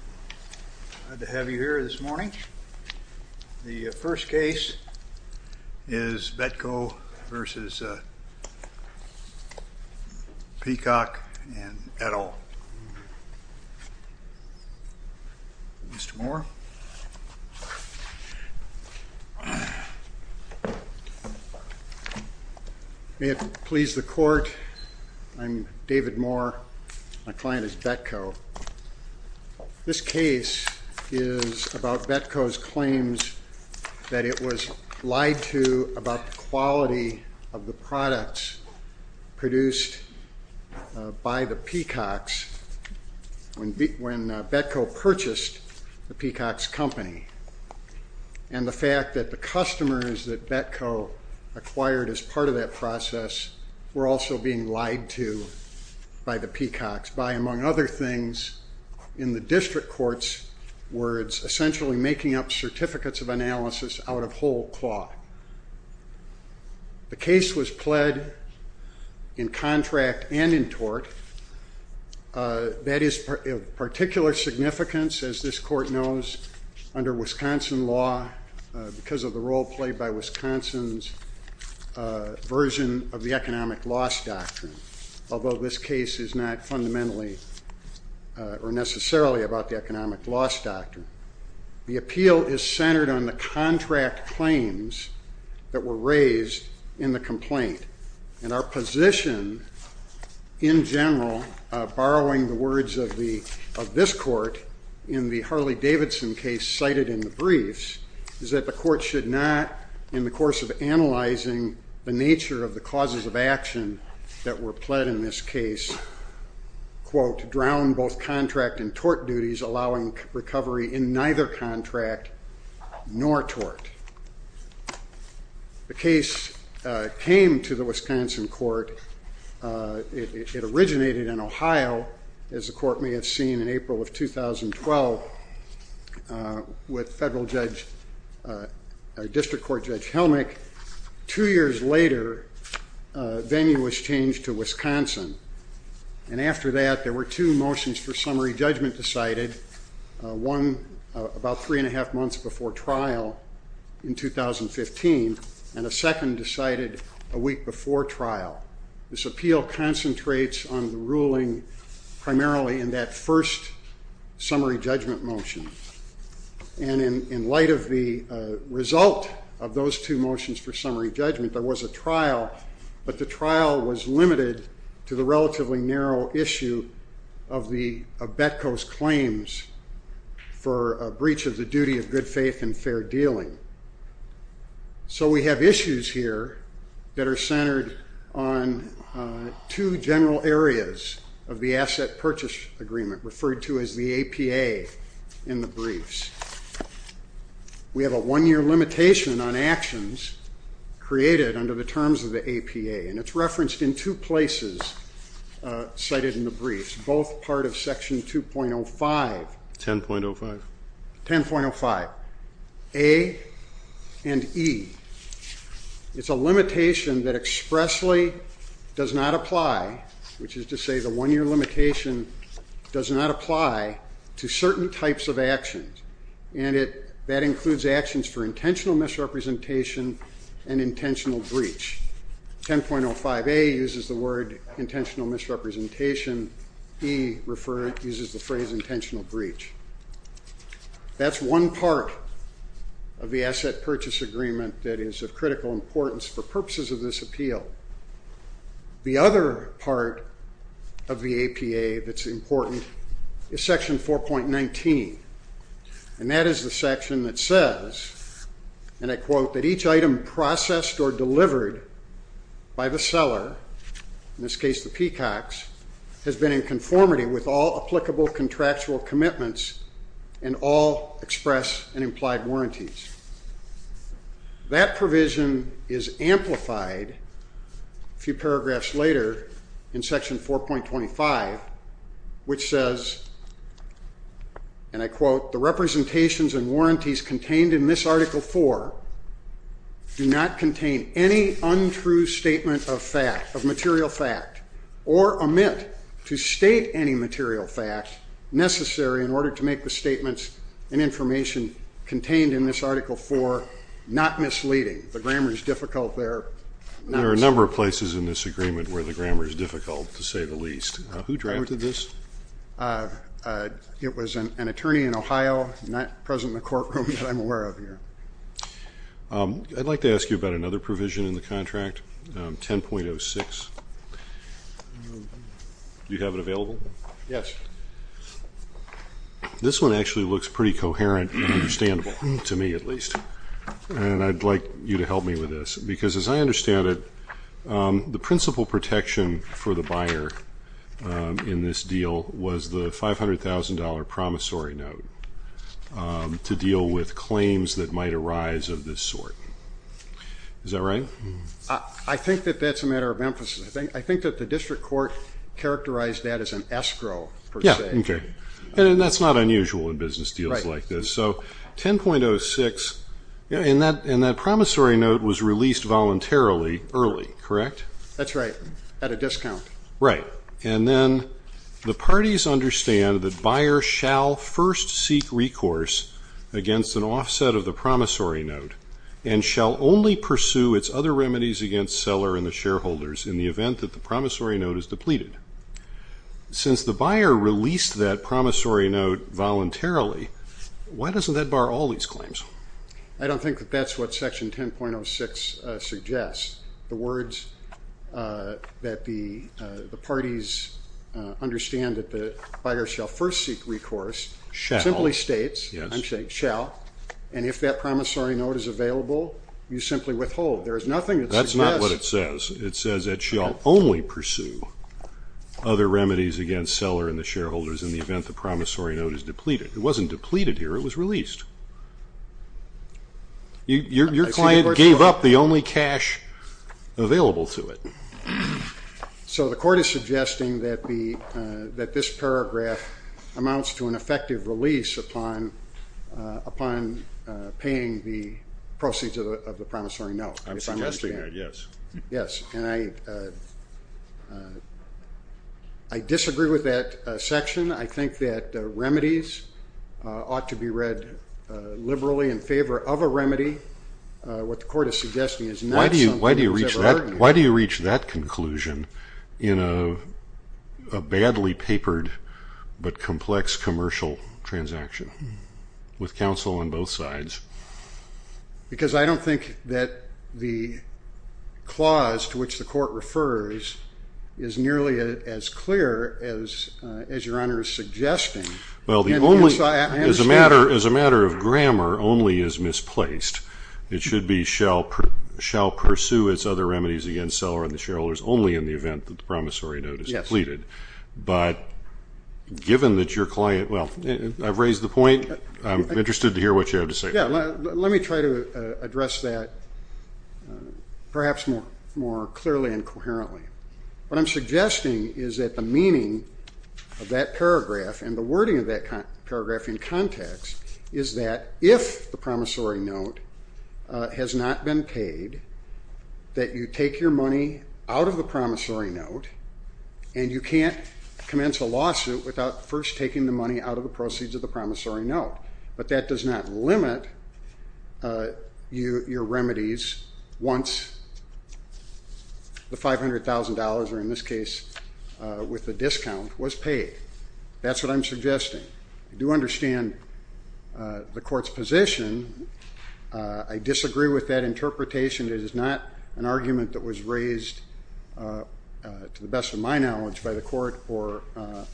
I'm glad to have you here this morning. The first case is Betco v. Peacock & Edel. Mr. Moore. May it please the court, I'm David Moore. My client is Betco. This case is about Betco's claims that it was lied to about the quality of the products produced by the Peacocks when Betco purchased the Peacocks company. And the fact that the customers that Betco acquired as part of that process were also being lied to by the Peacocks by, among other things, in the district court's words, essentially making up certificates of analysis out of whole cloth. The case was pled in contract and in tort. That is of particular significance, as this court knows, under Wisconsin law because of the role played by Wisconsin's version of the economic loss doctrine, although this case is not fundamentally or necessarily about the economic loss doctrine. The appeal is centered on the contract claims that were raised in the complaint. And our position in general, borrowing the words of this court in the Harley Davidson case cited in the briefs, is that the court should not, in the course of analyzing the nature of the causes of action that were pled in this case, quote, drown both contract and tort duties, allowing recovery in neither contract nor tort. The case came to the Wisconsin court. It originated in Ohio, as the court may have seen, in April of 2012 with federal judge, District Court Judge Helmick. Two years later, venue was changed to Wisconsin. And after that, there were two motions for summary judgment decided, one about three and a half months before trial in 2015, and a second decided a week before trial. This appeal concentrates on the ruling primarily in that first summary judgment motion. And in light of the result of those two motions for summary judgment, there was a trial, but the trial was limited to the relatively narrow issue of Betko's claims for a breach of the duty of good faith and fair dealing. So we have issues here that are centered on two general areas of the asset purchase agreement, referred to as the APA in the briefs. We have a one-year limitation on actions created under the terms of the APA, and it's referenced in two places cited in the briefs, both part of Section 2.05. 10.05. 10.05A and E. It's a limitation that expressly does not apply, which is to say the one-year limitation does not apply to certain types of actions, and that includes actions for intentional misrepresentation and intentional breach. 10.05A uses the word intentional misrepresentation. E uses the phrase intentional breach. That's one part of the asset purchase agreement that is of critical importance for purposes of this appeal. The other part of the APA that's important is Section 4.19, and that is the section that says, and I quote, that each item processed or delivered by the seller, in this case the Peacocks, has been in conformity with all applicable contractual commitments and all express and implied warranties. That provision is amplified a few paragraphs later in Section 4.25, which says, and I quote, the representations and warranties contained in this Article 4 do not contain any untrue statement of fact, of material fact, or omit to state any material fact necessary in order to make the statements and information contained in this Article 4 not misleading. The grammar is difficult there. There are a number of places in this agreement where the grammar is difficult, to say the least. Who drafted this? It was an attorney in Ohio, not present in the courtroom that I'm aware of here. I'd like to ask you about another provision in the contract, 10.06. Do you have it available? Yes. This one actually looks pretty coherent and understandable, to me at least, and I'd like you to help me with this because, as I understand it, the principal protection for the buyer in this deal was the $500,000 promissory note to deal with claims that might arise of this sort. Is that right? I think that that's a matter of emphasis. I think that the district court characterized that as an escrow, per se. Yes, okay. And that's not unusual in business deals like this. So 10.06, and that promissory note was released voluntarily early, correct? That's right, at a discount. Right. And then the parties understand that buyers shall first seek recourse against an offset of the promissory note and shall only pursue its other remedies against seller and the shareholders in the event that the promissory note is depleted. Since the buyer released that promissory note voluntarily, why doesn't that bar all these claims? I don't think that that's what Section 10.06 suggests. The words that the parties understand that the buyer shall first seek recourse simply states, I'm saying shall, and if that promissory note is available, you simply withhold. There is nothing that suggests. That's not what it says. It says that shall only pursue other remedies against seller and the shareholders in the event the promissory note is depleted. It wasn't depleted here. It was released. Your client gave up the only cash available to it. So the court is suggesting that this paragraph amounts to an effective release upon paying the proceeds of the promissory note. I'm suggesting that, yes. Yes, and I disagree with that section. I think that remedies ought to be read liberally in favor of a remedy. What the court is suggesting is not something that was ever heard in there. Why do you reach that conclusion in a badly papered but complex commercial transaction with counsel on both sides? Because I don't think that the clause to which the court refers is nearly as clear as Your Honor is suggesting. Well, as a matter of grammar, only is misplaced. It should be shall pursue its other remedies against seller and the shareholders only in the event that the promissory note is depleted. But given that your client, well, I've raised the point. I'm interested to hear what you have to say. Yeah, let me try to address that perhaps more clearly and coherently. What I'm suggesting is that the meaning of that paragraph and the wording of that paragraph in context is that if the promissory note has not been paid, that you take your money out of the promissory note and you can't commence a lawsuit without first taking the money out of the proceeds of the promissory note. But that does not limit your remedies once the $500,000, or in this case with the discount, was paid. That's what I'm suggesting. I do understand the court's position. I disagree with that interpretation. It is not an argument that was raised to the best of my knowledge by the court or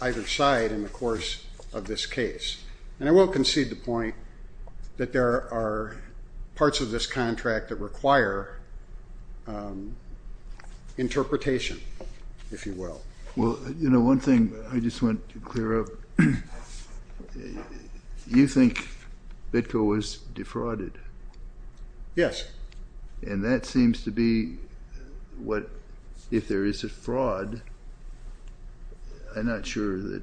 either side in the course of this case. And I will concede the point that there are parts of this contract that require interpretation, if you will. Well, you know, one thing I just want to clear up, you think Bitco was defrauded? Yes. And that seems to be what, if there is a fraud, I'm not sure that,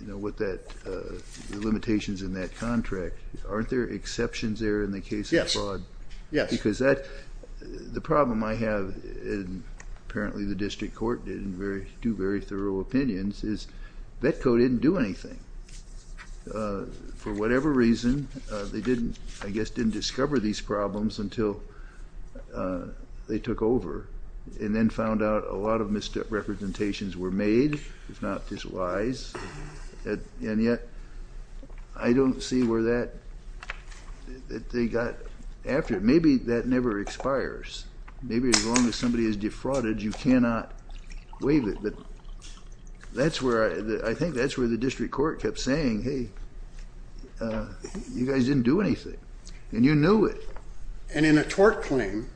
you know, what that, the limitations in that contract. Aren't there exceptions there in the case of fraud? Yes. Because that, the problem I have, and apparently the district court didn't do very thorough opinions, is Bitco didn't do anything. For whatever reason, they didn't, I guess, didn't discover these problems until they took over. And then found out a lot of misrepresentations were made, if not this wise. And yet, I don't see where that, that they got after. Maybe that never expires. Maybe as long as somebody is defrauded, you cannot waive it. But that's where, I think that's where the district court kept saying, hey, you guys didn't do anything. And you knew it. And in a tort claim,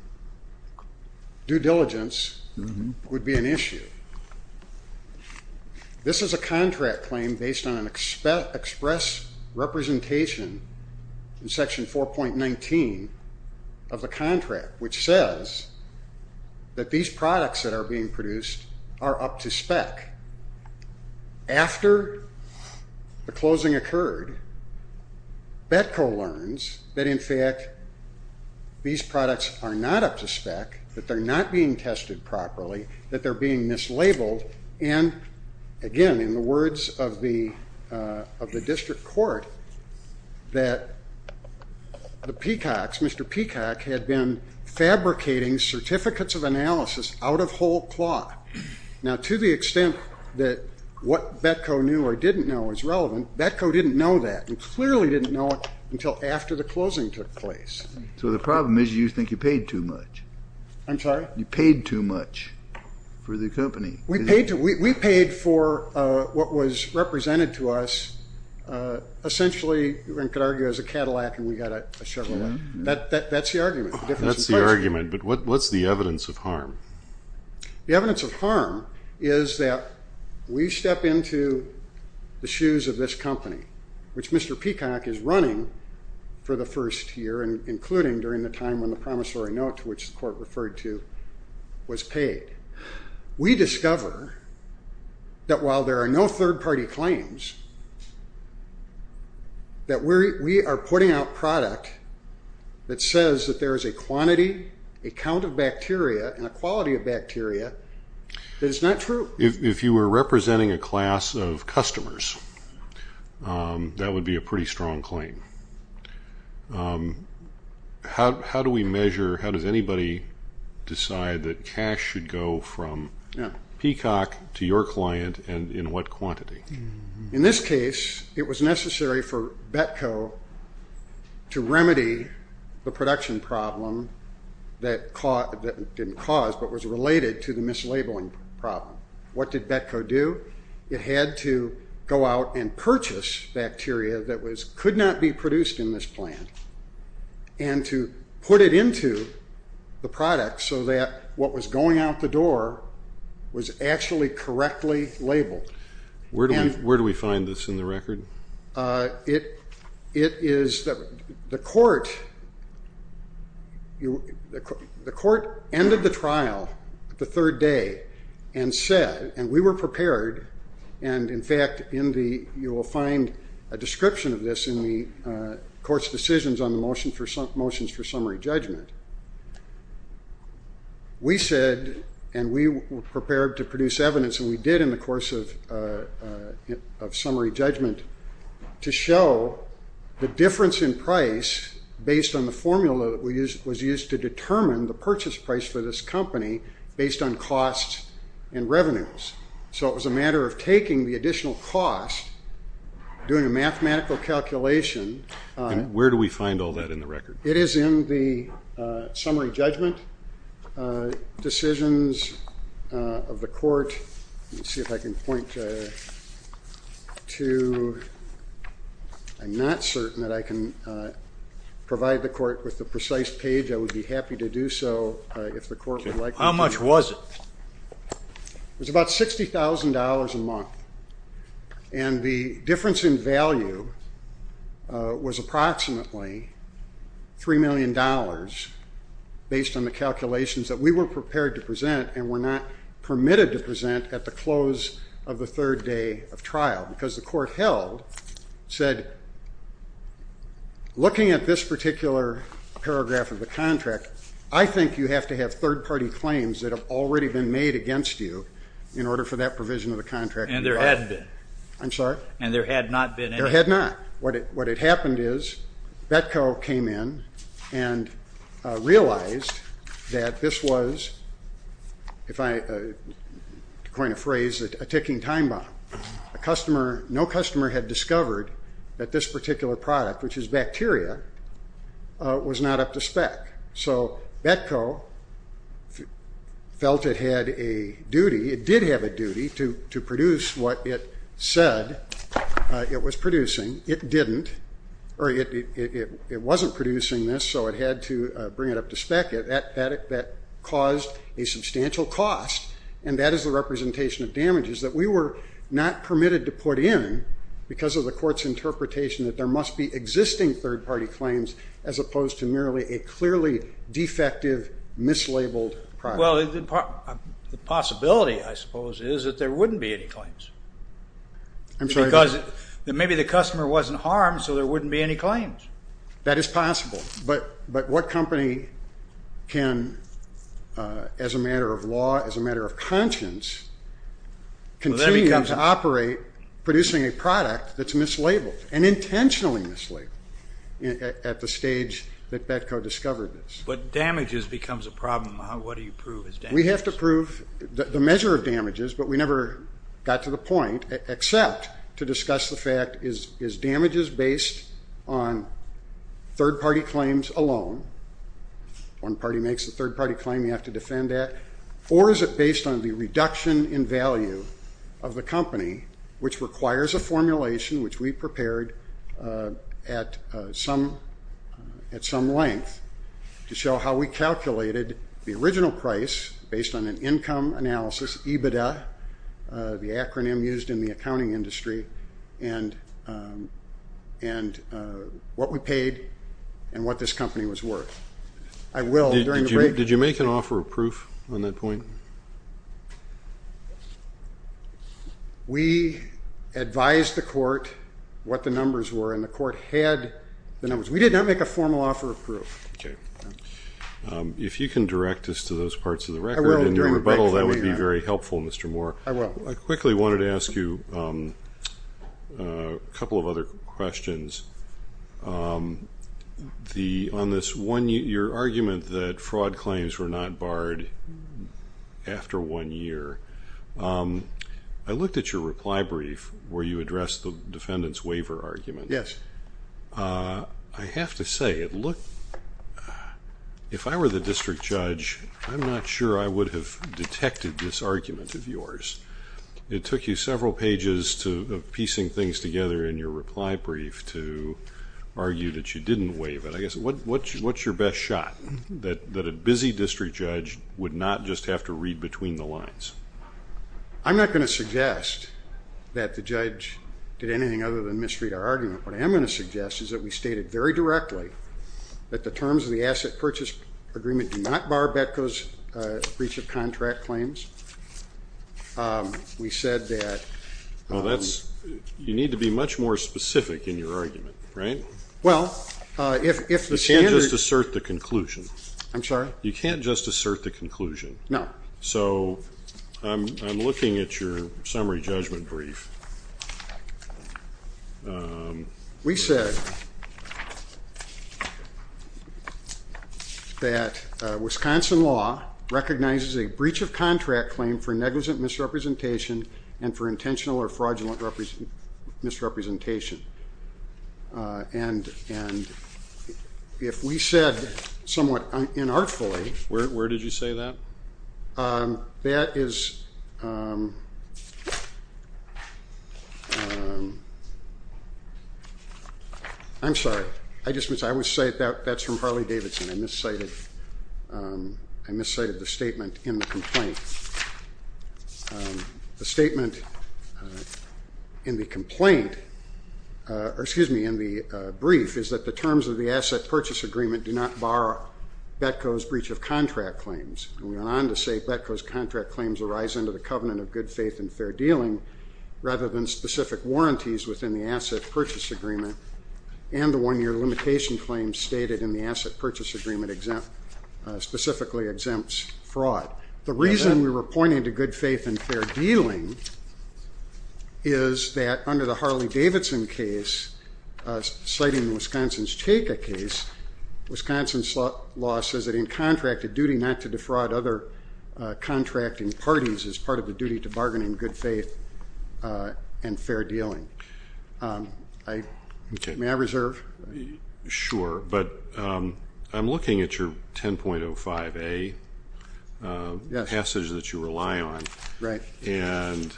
due diligence would be an issue. This is a contract claim based on an express representation in section 4.19 of the contract, which says that these products that are being produced are up to spec. After the closing occurred, Bitco learns that in fact these products are not up to spec, that they're not being tested properly, that they're being mislabeled. And again, in the words of the district court, that the Peacocks, Mr. Peacock, had been fabricating certificates of analysis out of whole cloth. Now, to the extent that what Bitco knew or didn't know was relevant, Bitco didn't know that, and clearly didn't know it until after the closing took place. So the problem is you think you paid too much. I'm sorry? You paid too much for the company. We paid for what was represented to us essentially, one could argue, as a Cadillac, and we got a Chevrolet. That's the argument. That's the argument, but what's the evidence of harm? The evidence of harm is that we step into the shoes of this company, which Mr. Peacock is running for the first year, including during the time when the promissory note to which the court referred to was paid. We discover that while there are no third-party claims, that we are putting out product that says that there is a quantity, a count of bacteria, and a quality of bacteria that is not true. If you were representing a class of customers, that would be a pretty strong claim. How do we measure, how does anybody decide that cash should go from Peacock to your client and in what quantity? In this case, it was necessary for Bitco to remedy the production problem that didn't cause but was related to the mislabeling problem. What did Bitco do? It had to go out and purchase bacteria that could not be produced in this plant and to put it into the product so that what was going out the door was actually correctly labeled. Where do we find this in the record? It is that the court ended the trial the third day and said, and we were prepared, and in fact you will find a description of this in the court's decisions on the motions for summary judgment. We said, and we were prepared to produce evidence, and we did in the course of summary judgment, to show the difference in price based on the formula that was used to determine the purchase price for this company based on cost and revenues. So it was a matter of taking the additional cost, doing a mathematical calculation. Where do we find all that in the record? It is in the summary judgment decisions of the court. Let me see if I can point to, I'm not certain that I can provide the court with the precise page. I would be happy to do so if the court would like me to. How much was it? And the difference in value was approximately $3 million based on the calculations that we were prepared to present and were not permitted to present at the close of the third day of trial because the court held, said, looking at this particular paragraph of the contract, I think you have to have third-party claims that have already been made against you in order for that provision of the contract to be brought in. And there had been. I'm sorry? And there had not been any. There had not. What had happened is Betco came in and realized that this was, to coin a phrase, a ticking time bomb. No customer had discovered that this particular product, which is bacteria, was not up to spec. So Betco felt it had a duty. It did have a duty to produce what it said it was producing. It didn't, or it wasn't producing this, so it had to bring it up to spec. That caused a substantial cost, and that is the representation of damages that we were not permitted to put in because of the court's interpretation that there must be existing third-party claims as opposed to merely a clearly defective, mislabeled product. Well, the possibility, I suppose, is that there wouldn't be any claims. I'm sorry? Because maybe the customer wasn't harmed, so there wouldn't be any claims. That is possible. But what company can, as a matter of law, as a matter of conscience, continue to operate producing a product that's mislabeled and intentionally mislabeled at the stage that Betco discovered this? But damages becomes a problem. What do you prove as damages? We have to prove the measure of damages, but we never got to the point except to discuss the fact, is damages based on third-party claims alone? One party makes a third-party claim you have to defend that, or is it based on the reduction in value of the company, which requires a formulation which we prepared at some length to show how we calculated the original price based on an income analysis, EBITDA, the acronym used in the accounting industry, and what we paid and what this company was worth. Did you make an offer of proof on that point? We advised the court what the numbers were, and the court had the numbers. We did not make a formal offer of proof. Okay. If you can direct us to those parts of the record in your rebuttal, that would be very helpful, Mr. Moore. I will. I quickly wanted to ask you a couple of other questions. On your argument that fraud claims were not barred after one year, I looked at your reply brief where you addressed the defendant's waiver argument. Yes. I have to say, if I were the district judge, I'm not sure I would have detected this argument of yours. It took you several pages of piecing things together in your reply brief to argue that you didn't waive it. What's your best shot that a busy district judge would not just have to read between the lines? I'm not going to suggest that the judge did anything other than misread our argument. What I am going to suggest is that we stated very directly that the terms of the asset purchase agreement do not bar Betco's breach of contract claims. You need to be much more specific in your argument, right? You can't just assert the conclusion. I'm sorry? You can't just assert the conclusion. No. I'm looking at your summary judgment brief. We said that Wisconsin law recognizes a breach of contract claim for negligent misrepresentation and for intentional or fraudulent misrepresentation. And if we said somewhat inartfully... Where did you say that? That is... I'm sorry. I would say that's from Harley Davidson. I miscited the statement in the complaint. The statement in the complaint, or excuse me, in the brief, is that the terms of the asset purchase agreement do not bar Betco's breach of contract claims. And we went on to say Betco's contract claims arise under the covenant of good faith and fair dealing rather than specific warranties within the asset purchase agreement and the one-year limitation claims stated in the asset purchase agreement specifically exempts fraud. The reason we were pointing to good faith and fair dealing is that under the Harley Davidson case, citing Wisconsin's TACA case, Wisconsin's law says that in contract, a duty not to defraud other contracting parties is part of the duty to bargain in good faith and fair dealing. May I reserve? Sure. But I'm looking at your 10.05a passage that you rely on. Right. And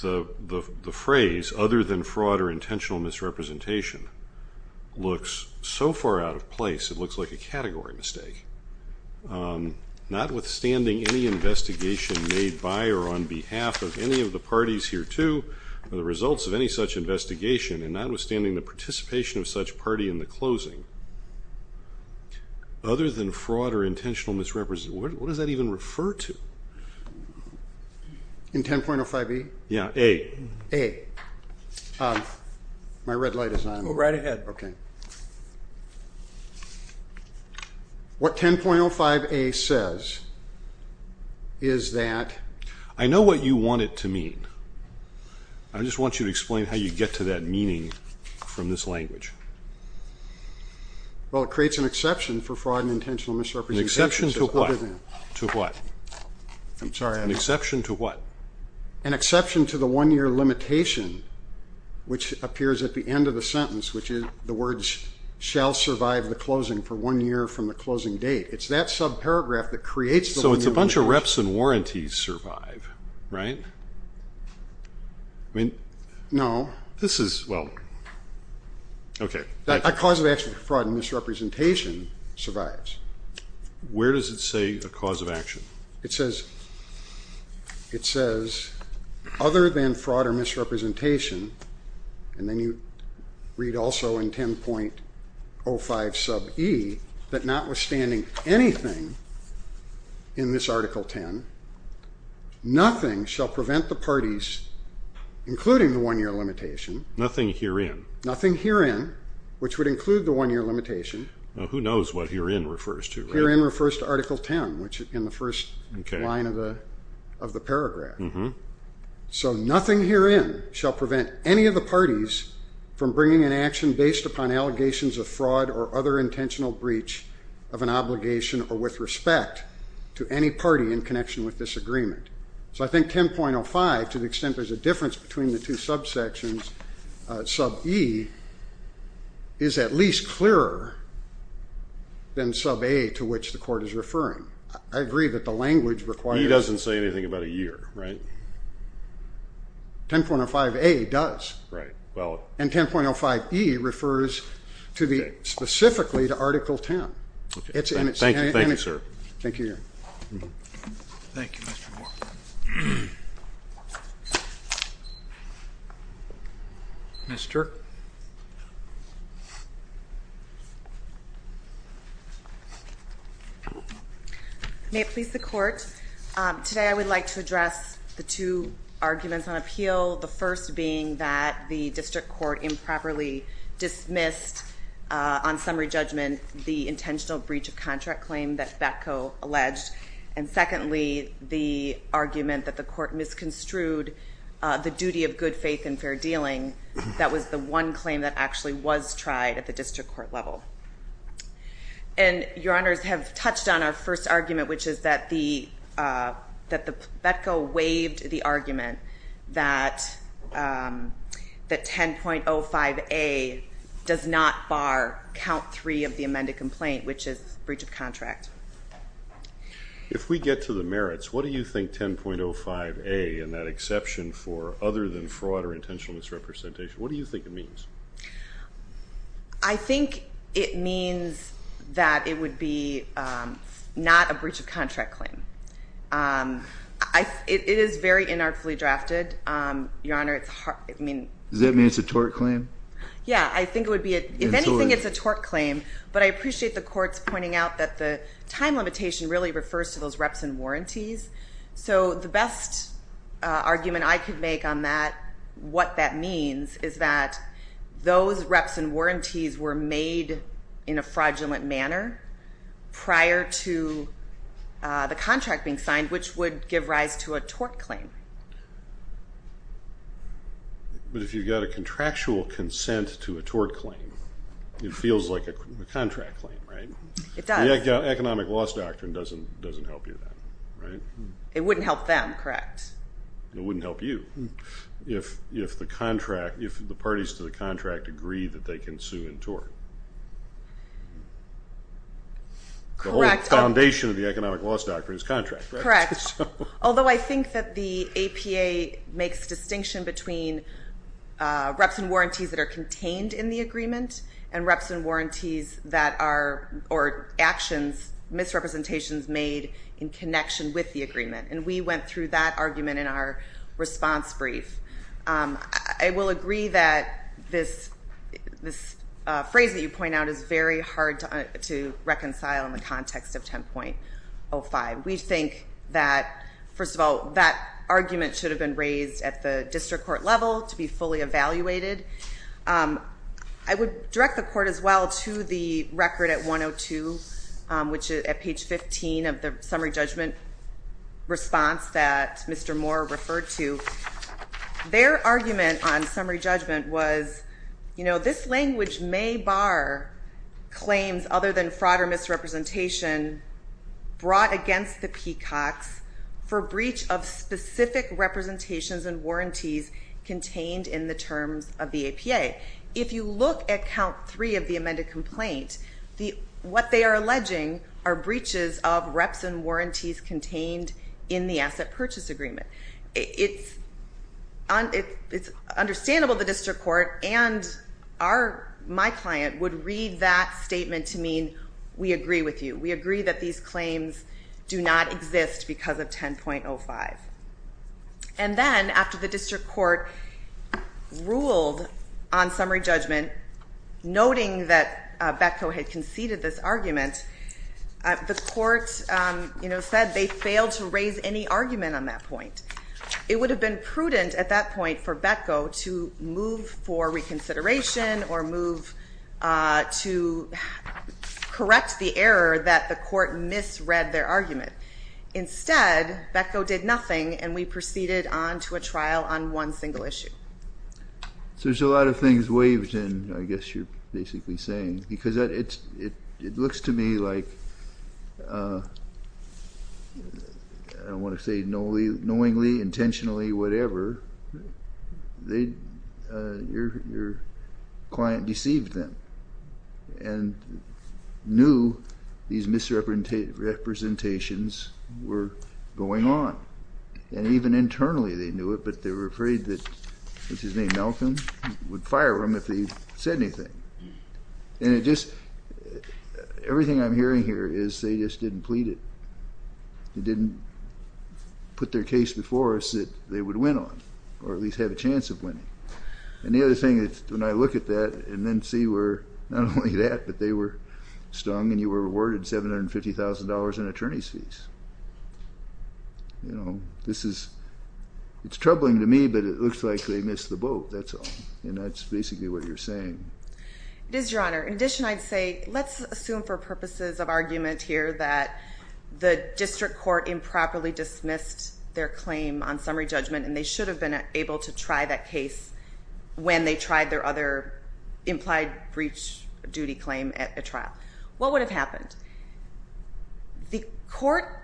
the phrase, other than fraud or intentional misrepresentation, looks so far out of place, it looks like a category mistake. Notwithstanding any investigation made by or on behalf of any of the parties here, too, or the results of any such investigation, and notwithstanding the participation of such party in the closing, other than fraud or intentional misrepresentation, what does that even refer to? In 10.05a? Yeah, a. A. My red light is on. Go right ahead. Okay. What 10.05a says is that... I know what you want it to mean. I just want you to explain how you get to that meaning from this language. Well, it creates an exception for fraud and intentional misrepresentation. An exception to what? To what? I'm sorry. An exception to what? An exception to the one-year limitation, which appears at the end of the sentence, which is the words shall survive the closing for one year from the closing date. It's that subparagraph that creates the one-year limitation. Interrupts and warranties survive, right? No. This is, well, okay. A cause of action for fraud and misrepresentation survives. Where does it say a cause of action? It says other than fraud or misrepresentation, and then you read also in 10.05e, that notwithstanding anything in this Article 10, nothing shall prevent the parties, including the one-year limitation. Nothing herein. Nothing herein, which would include the one-year limitation. Who knows what herein refers to? Herein refers to Article 10, which is in the first line of the paragraph. So nothing herein shall prevent any of the parties from bringing an action based upon allegations of fraud or other intentional breach of an obligation or with respect to any party in connection with this agreement. So I think 10.05, to the extent there's a difference between the two subsections, sub-e is at least clearer than sub-a, to which the court is referring. I agree that the language requires. It doesn't say anything about a year, right? 10.05a does. Right. And 10.05e refers specifically to Article 10. Thank you, sir. Thank you. Thank you, Mr. Moore. Mr. May it please the court, today I would like to address the two arguments on appeal, the first being that the district court improperly dismissed on summary judgment the intentional breach of contract claim that Betko alleged, and secondly, the argument that the court misconstrued the duty of good faith and fair dealing that was the one claim that actually was tried at the district court level. And your honors have touched on our first argument, which is that Betko waived the argument that 10.05a does not bar count three of the amended complaint, which is breach of contract. If we get to the merits, what do you think 10.05a and that exception for other than fraud or intentional misrepresentation, what do you think it means? I think it means that it would be not a breach of contract claim. It is very inartfully drafted, your honor. Does that mean it's a tort claim? Yeah, I think it would be. If anything, it's a tort claim, but I appreciate the courts pointing out that the time limitation really refers to those reps and warranties. So the best argument I could make on what that means is that those reps and warranties were made in a fraudulent manner prior to the contract being signed, which would give rise to a tort claim. But if you've got a contractual consent to a tort claim, it feels like a contract claim, right? It does. The economic loss doctrine doesn't help you with that, right? It wouldn't help them, correct. It wouldn't help you if the parties to the contract agree that they can sue and tort. Correct. The whole foundation of the economic loss doctrine is contract, right? Correct. Although I think that the APA makes distinction between reps and warranties that are contained in the agreement and reps and warranties that are actions, misrepresentations made in connection with the agreement. And we went through that argument in our response brief. I will agree that this phrase that you point out is very hard to reconcile in the context of 10.05. We think that, first of all, that argument should have been raised at the district court level to be fully evaluated. I would direct the court as well to the record at 102, which is at page 15 of the summary judgment response that Mr. Moore referred to. Their argument on summary judgment was, you know, this language may bar claims other than fraud or misrepresentation brought against the Peacocks for breach of specific representations and warranties contained in the terms of the APA. If you look at count three of the amended complaint, what they are alleging are breaches of reps and warranties contained in the asset purchase agreement. It's understandable the district court and my client would read that statement to mean we agree with you. We agree that these claims do not exist because of 10.05. And then, after the district court ruled on summary judgment, noting that Betko had conceded this argument, the court, you know, said they failed to raise any argument on that point. It would have been prudent at that point for Betko to move for reconsideration or move to correct the error that the court misread their argument. Instead, Betko did nothing, and we proceeded on to a trial on one single issue. So there's a lot of things waved in, I guess you're basically saying, because it looks to me like, I don't want to say knowingly, intentionally, whatever, your client deceived them and knew these misrepresentations were going on. And even internally they knew it, but they were afraid that, what's his name, Malcolm, would fire him if he said anything. And it just, everything I'm hearing here is they just didn't plead it. They didn't put their case before us that they would win on, or at least have a chance of winning. And the other thing, when I look at that and then see where not only that, but they were stung and you were awarded $750,000 in attorney's fees. You know, this is, it's troubling to me, but it looks like they missed the boat. That's all. And that's basically what you're saying. It is, Your Honor. In addition, I'd say, let's assume for purposes of argument here that the district court improperly dismissed their claim on summary judgment and they should have been able to try that case when they tried their other implied breach duty claim at a trial. What would have happened? The court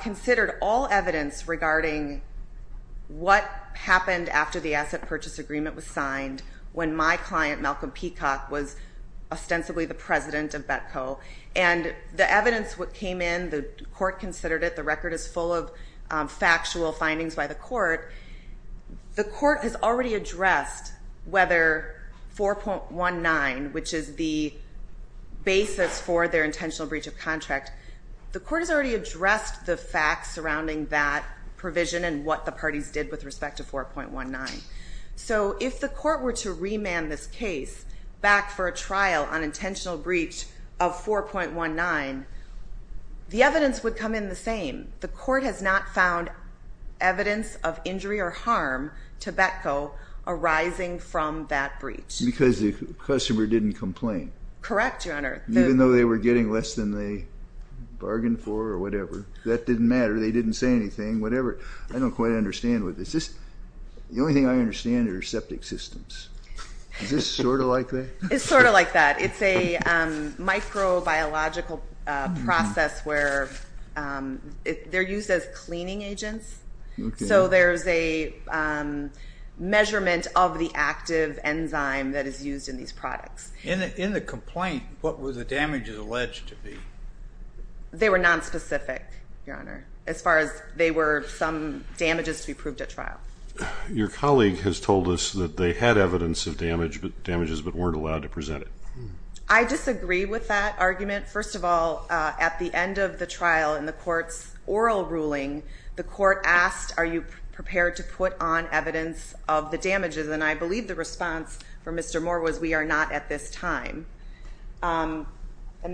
considered all evidence regarding what happened after the asset purchase agreement was signed, when my client, Malcolm Peacock, was ostensibly the president of Betco. And the evidence that came in, the court considered it, the record is full of factual findings by the court. The court has already addressed whether 4.19, which is the basis for their intentional breach of contract, the court has already addressed the facts surrounding that provision and what the parties did with respect to 4.19. So if the court were to remand this case back for a trial on intentional breach of 4.19, the evidence would come in the same. The court has not found evidence of injury or harm to Betco arising from that breach. Because the customer didn't complain. Correct, Your Honor. Even though they were getting less than they bargained for or whatever. That didn't matter. They didn't say anything, whatever. I don't quite understand with this. The only thing I understand are septic systems. Is this sort of like that? It's sort of like that. It's a microbiological process where they're used as cleaning agents. So there's a measurement of the active enzyme that is used in these products. In the complaint, what were the damages alleged to be? They were nonspecific, Your Honor, as far as they were some damages to be proved at trial. Your colleague has told us that they had evidence of damages but weren't allowed to present it. I disagree with that argument. First of all, at the end of the trial in the court's oral ruling, the court asked are you prepared to put on evidence of the damages, and I believe the response from Mr. Moore was we are not at this time. And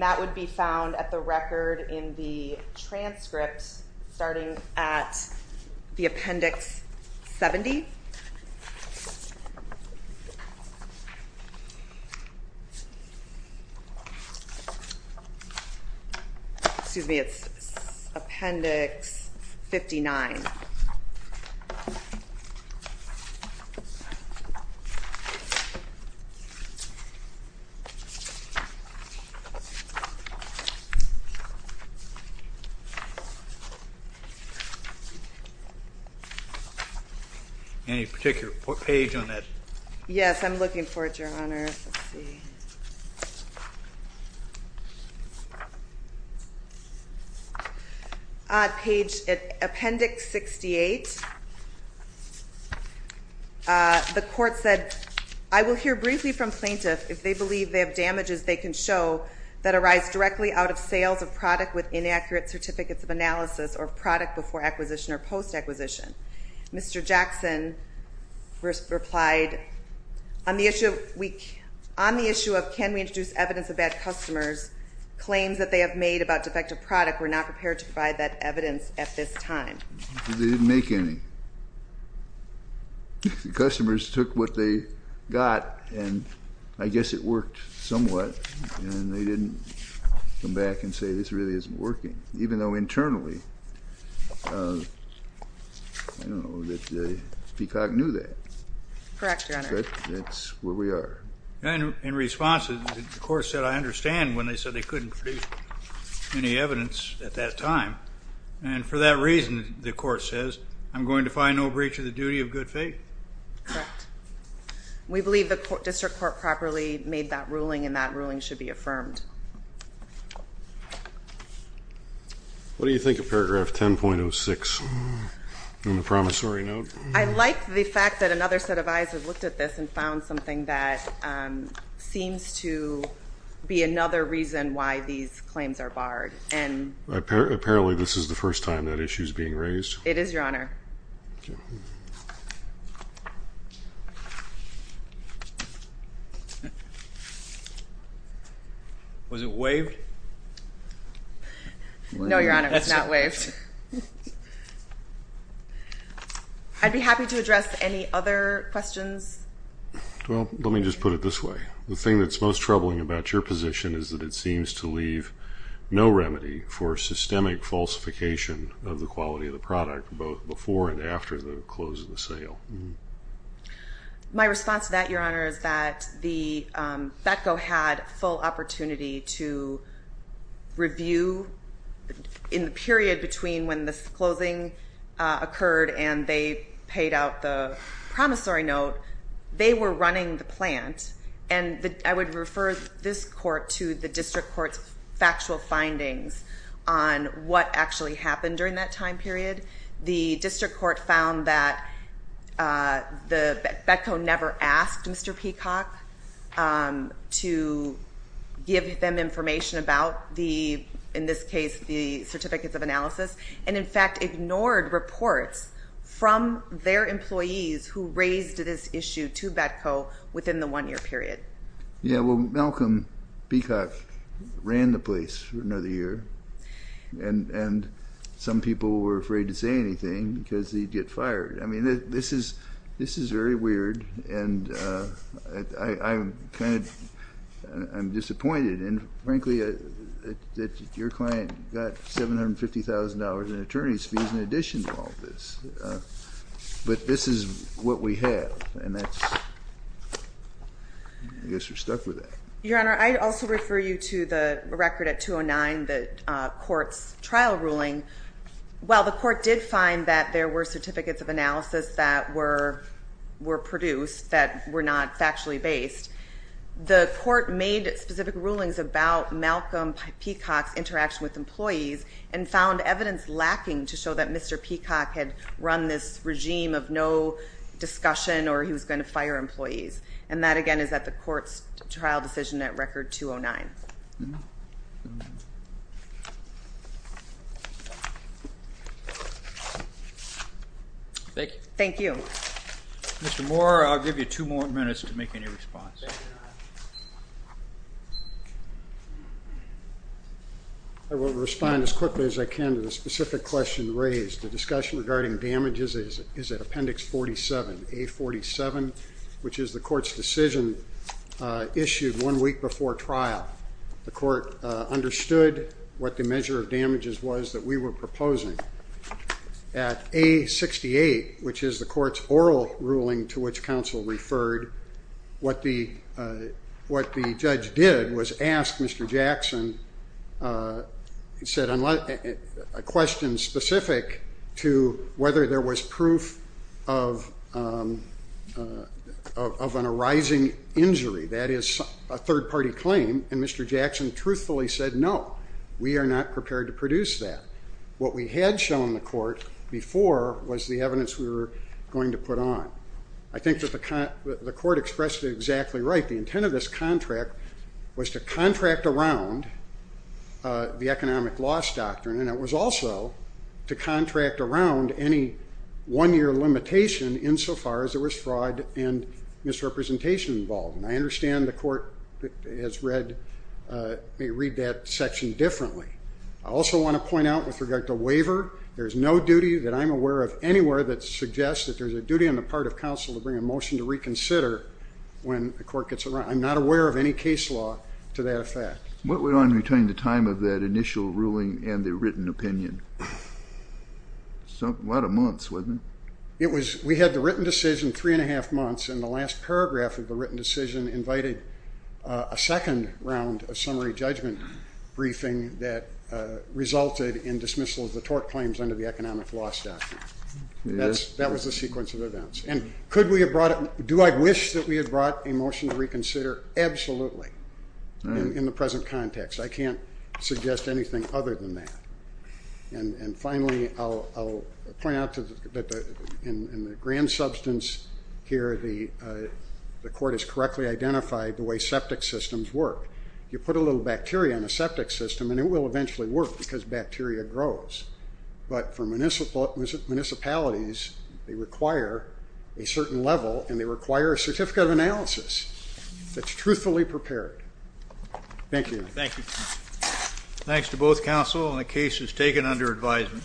that would be found at the record in the transcript starting at the Appendix 70. Excuse me, it's Appendix 59. Any particular page on that? Yes, I'm looking for it, Your Honor. Page Appendix 68. The court said, I will hear briefly from plaintiff if they believe they have damages they can show that arise directly out of sales of product with inaccurate certificates of analysis or product before acquisition or post-acquisition. Mr. Jackson replied, on the issue of can we introduce evidence of bad customers, claims that they have made about defective product, we're not prepared to provide that evidence at this time. They didn't make any. The customers took what they got, and I guess it worked somewhat, and they didn't come back and say this really isn't working, even though internally Peacock knew that. Correct, Your Honor. That's where we are. In response, the court said I understand when they said they couldn't produce any evidence at that time, and for that reason, the court says, I'm going to find no breach of the duty of good faith. Correct. We believe the district court properly made that ruling, and that ruling should be affirmed. What do you think of paragraph 10.06 on the promissory note? I like the fact that another set of eyes have looked at this and found something that seems to be another reason why these claims are barred. Apparently this is the first time that issue is being raised. It is, Your Honor. Was it waived? No, Your Honor, it's not waived. I'd be happy to address any other questions. Well, let me just put it this way. The thing that's most troubling about your position is that it seems to leave no remedy for systemic falsification of the quality of the product, both before and after the close of the sale. My response to that, Your Honor, is that Betco had full opportunity to review, in the period between when the closing occurred and they paid out the promissory note, they were running the plant, and I would refer this court to the district court's factual findings on what actually happened during that time period. The district court found that Betco never asked Mr. Peacock to give them information about the, in this case, the certificates of analysis, and, in fact, ignored reports from their employees who raised this issue to Betco within the one-year period. Yeah, well, Malcolm Peacock ran the place for another year, and some people were afraid to say anything because he'd get fired. I mean, this is very weird, and I'm kind of disappointed, and, frankly, that your client got $750,000 in attorney's fees in addition to all this. But this is what we have, and I guess we're stuck with that. Your Honor, I'd also refer you to the record at 209, the court's trial ruling. While the court did find that there were certificates of analysis that were produced that were not factually based, the court made specific rulings about Malcolm Peacock's interaction with employees and found evidence lacking to show that Mr. Peacock had run this regime of no discussion or he was going to fire employees, and that, again, is at the court's trial decision at Record 209. Thank you. Thank you. Mr. Moore, I'll give you two more minutes to make any response. I will respond as quickly as I can to the specific question raised. The discussion regarding damages is at Appendix 47, A47, which is the court's decision issued one week before trial. The court understood what the measure of damages was that we were proposing. At A68, which is the court's oral ruling to which counsel referred, what the judge did was ask Mr. Jackson a question specific to whether there was proof of an arising injury, that is, a third-party claim, and Mr. Jackson truthfully said, no, we are not prepared to produce that. What we had shown the court before was the evidence we were going to put on. I think that the court expressed it exactly right. The intent of this contract was to contract around the economic loss doctrine, and it was also to contract around any one-year limitation insofar as there was fraud and misrepresentation involved, and I understand the court has read that section differently. I also want to point out with regard to waiver, there is no duty that I'm aware of anywhere that suggests that there's a duty on the part of counsel to bring a motion to reconsider when the court gets around. I'm not aware of any case law to that effect. What went on between the time of that initial ruling and the written opinion? A lot of months, wasn't it? We had the written decision three and a half months, and the last paragraph of the written decision invited a second round of summary judgment briefing that resulted in dismissal of the tort claims under the economic loss doctrine. That was the sequence of events. And do I wish that we had brought a motion to reconsider? Absolutely, in the present context. I can't suggest anything other than that. And finally, I'll point out that in the grand substance here, the court has correctly identified the way septic systems work. You put a little bacteria in a septic system, and it will eventually work because bacteria grows. But for municipalities, they require a certain level, and they require a certificate of analysis that's truthfully prepared. Thank you. Thank you. Thanks to both counsel, and the case is taken under advisement.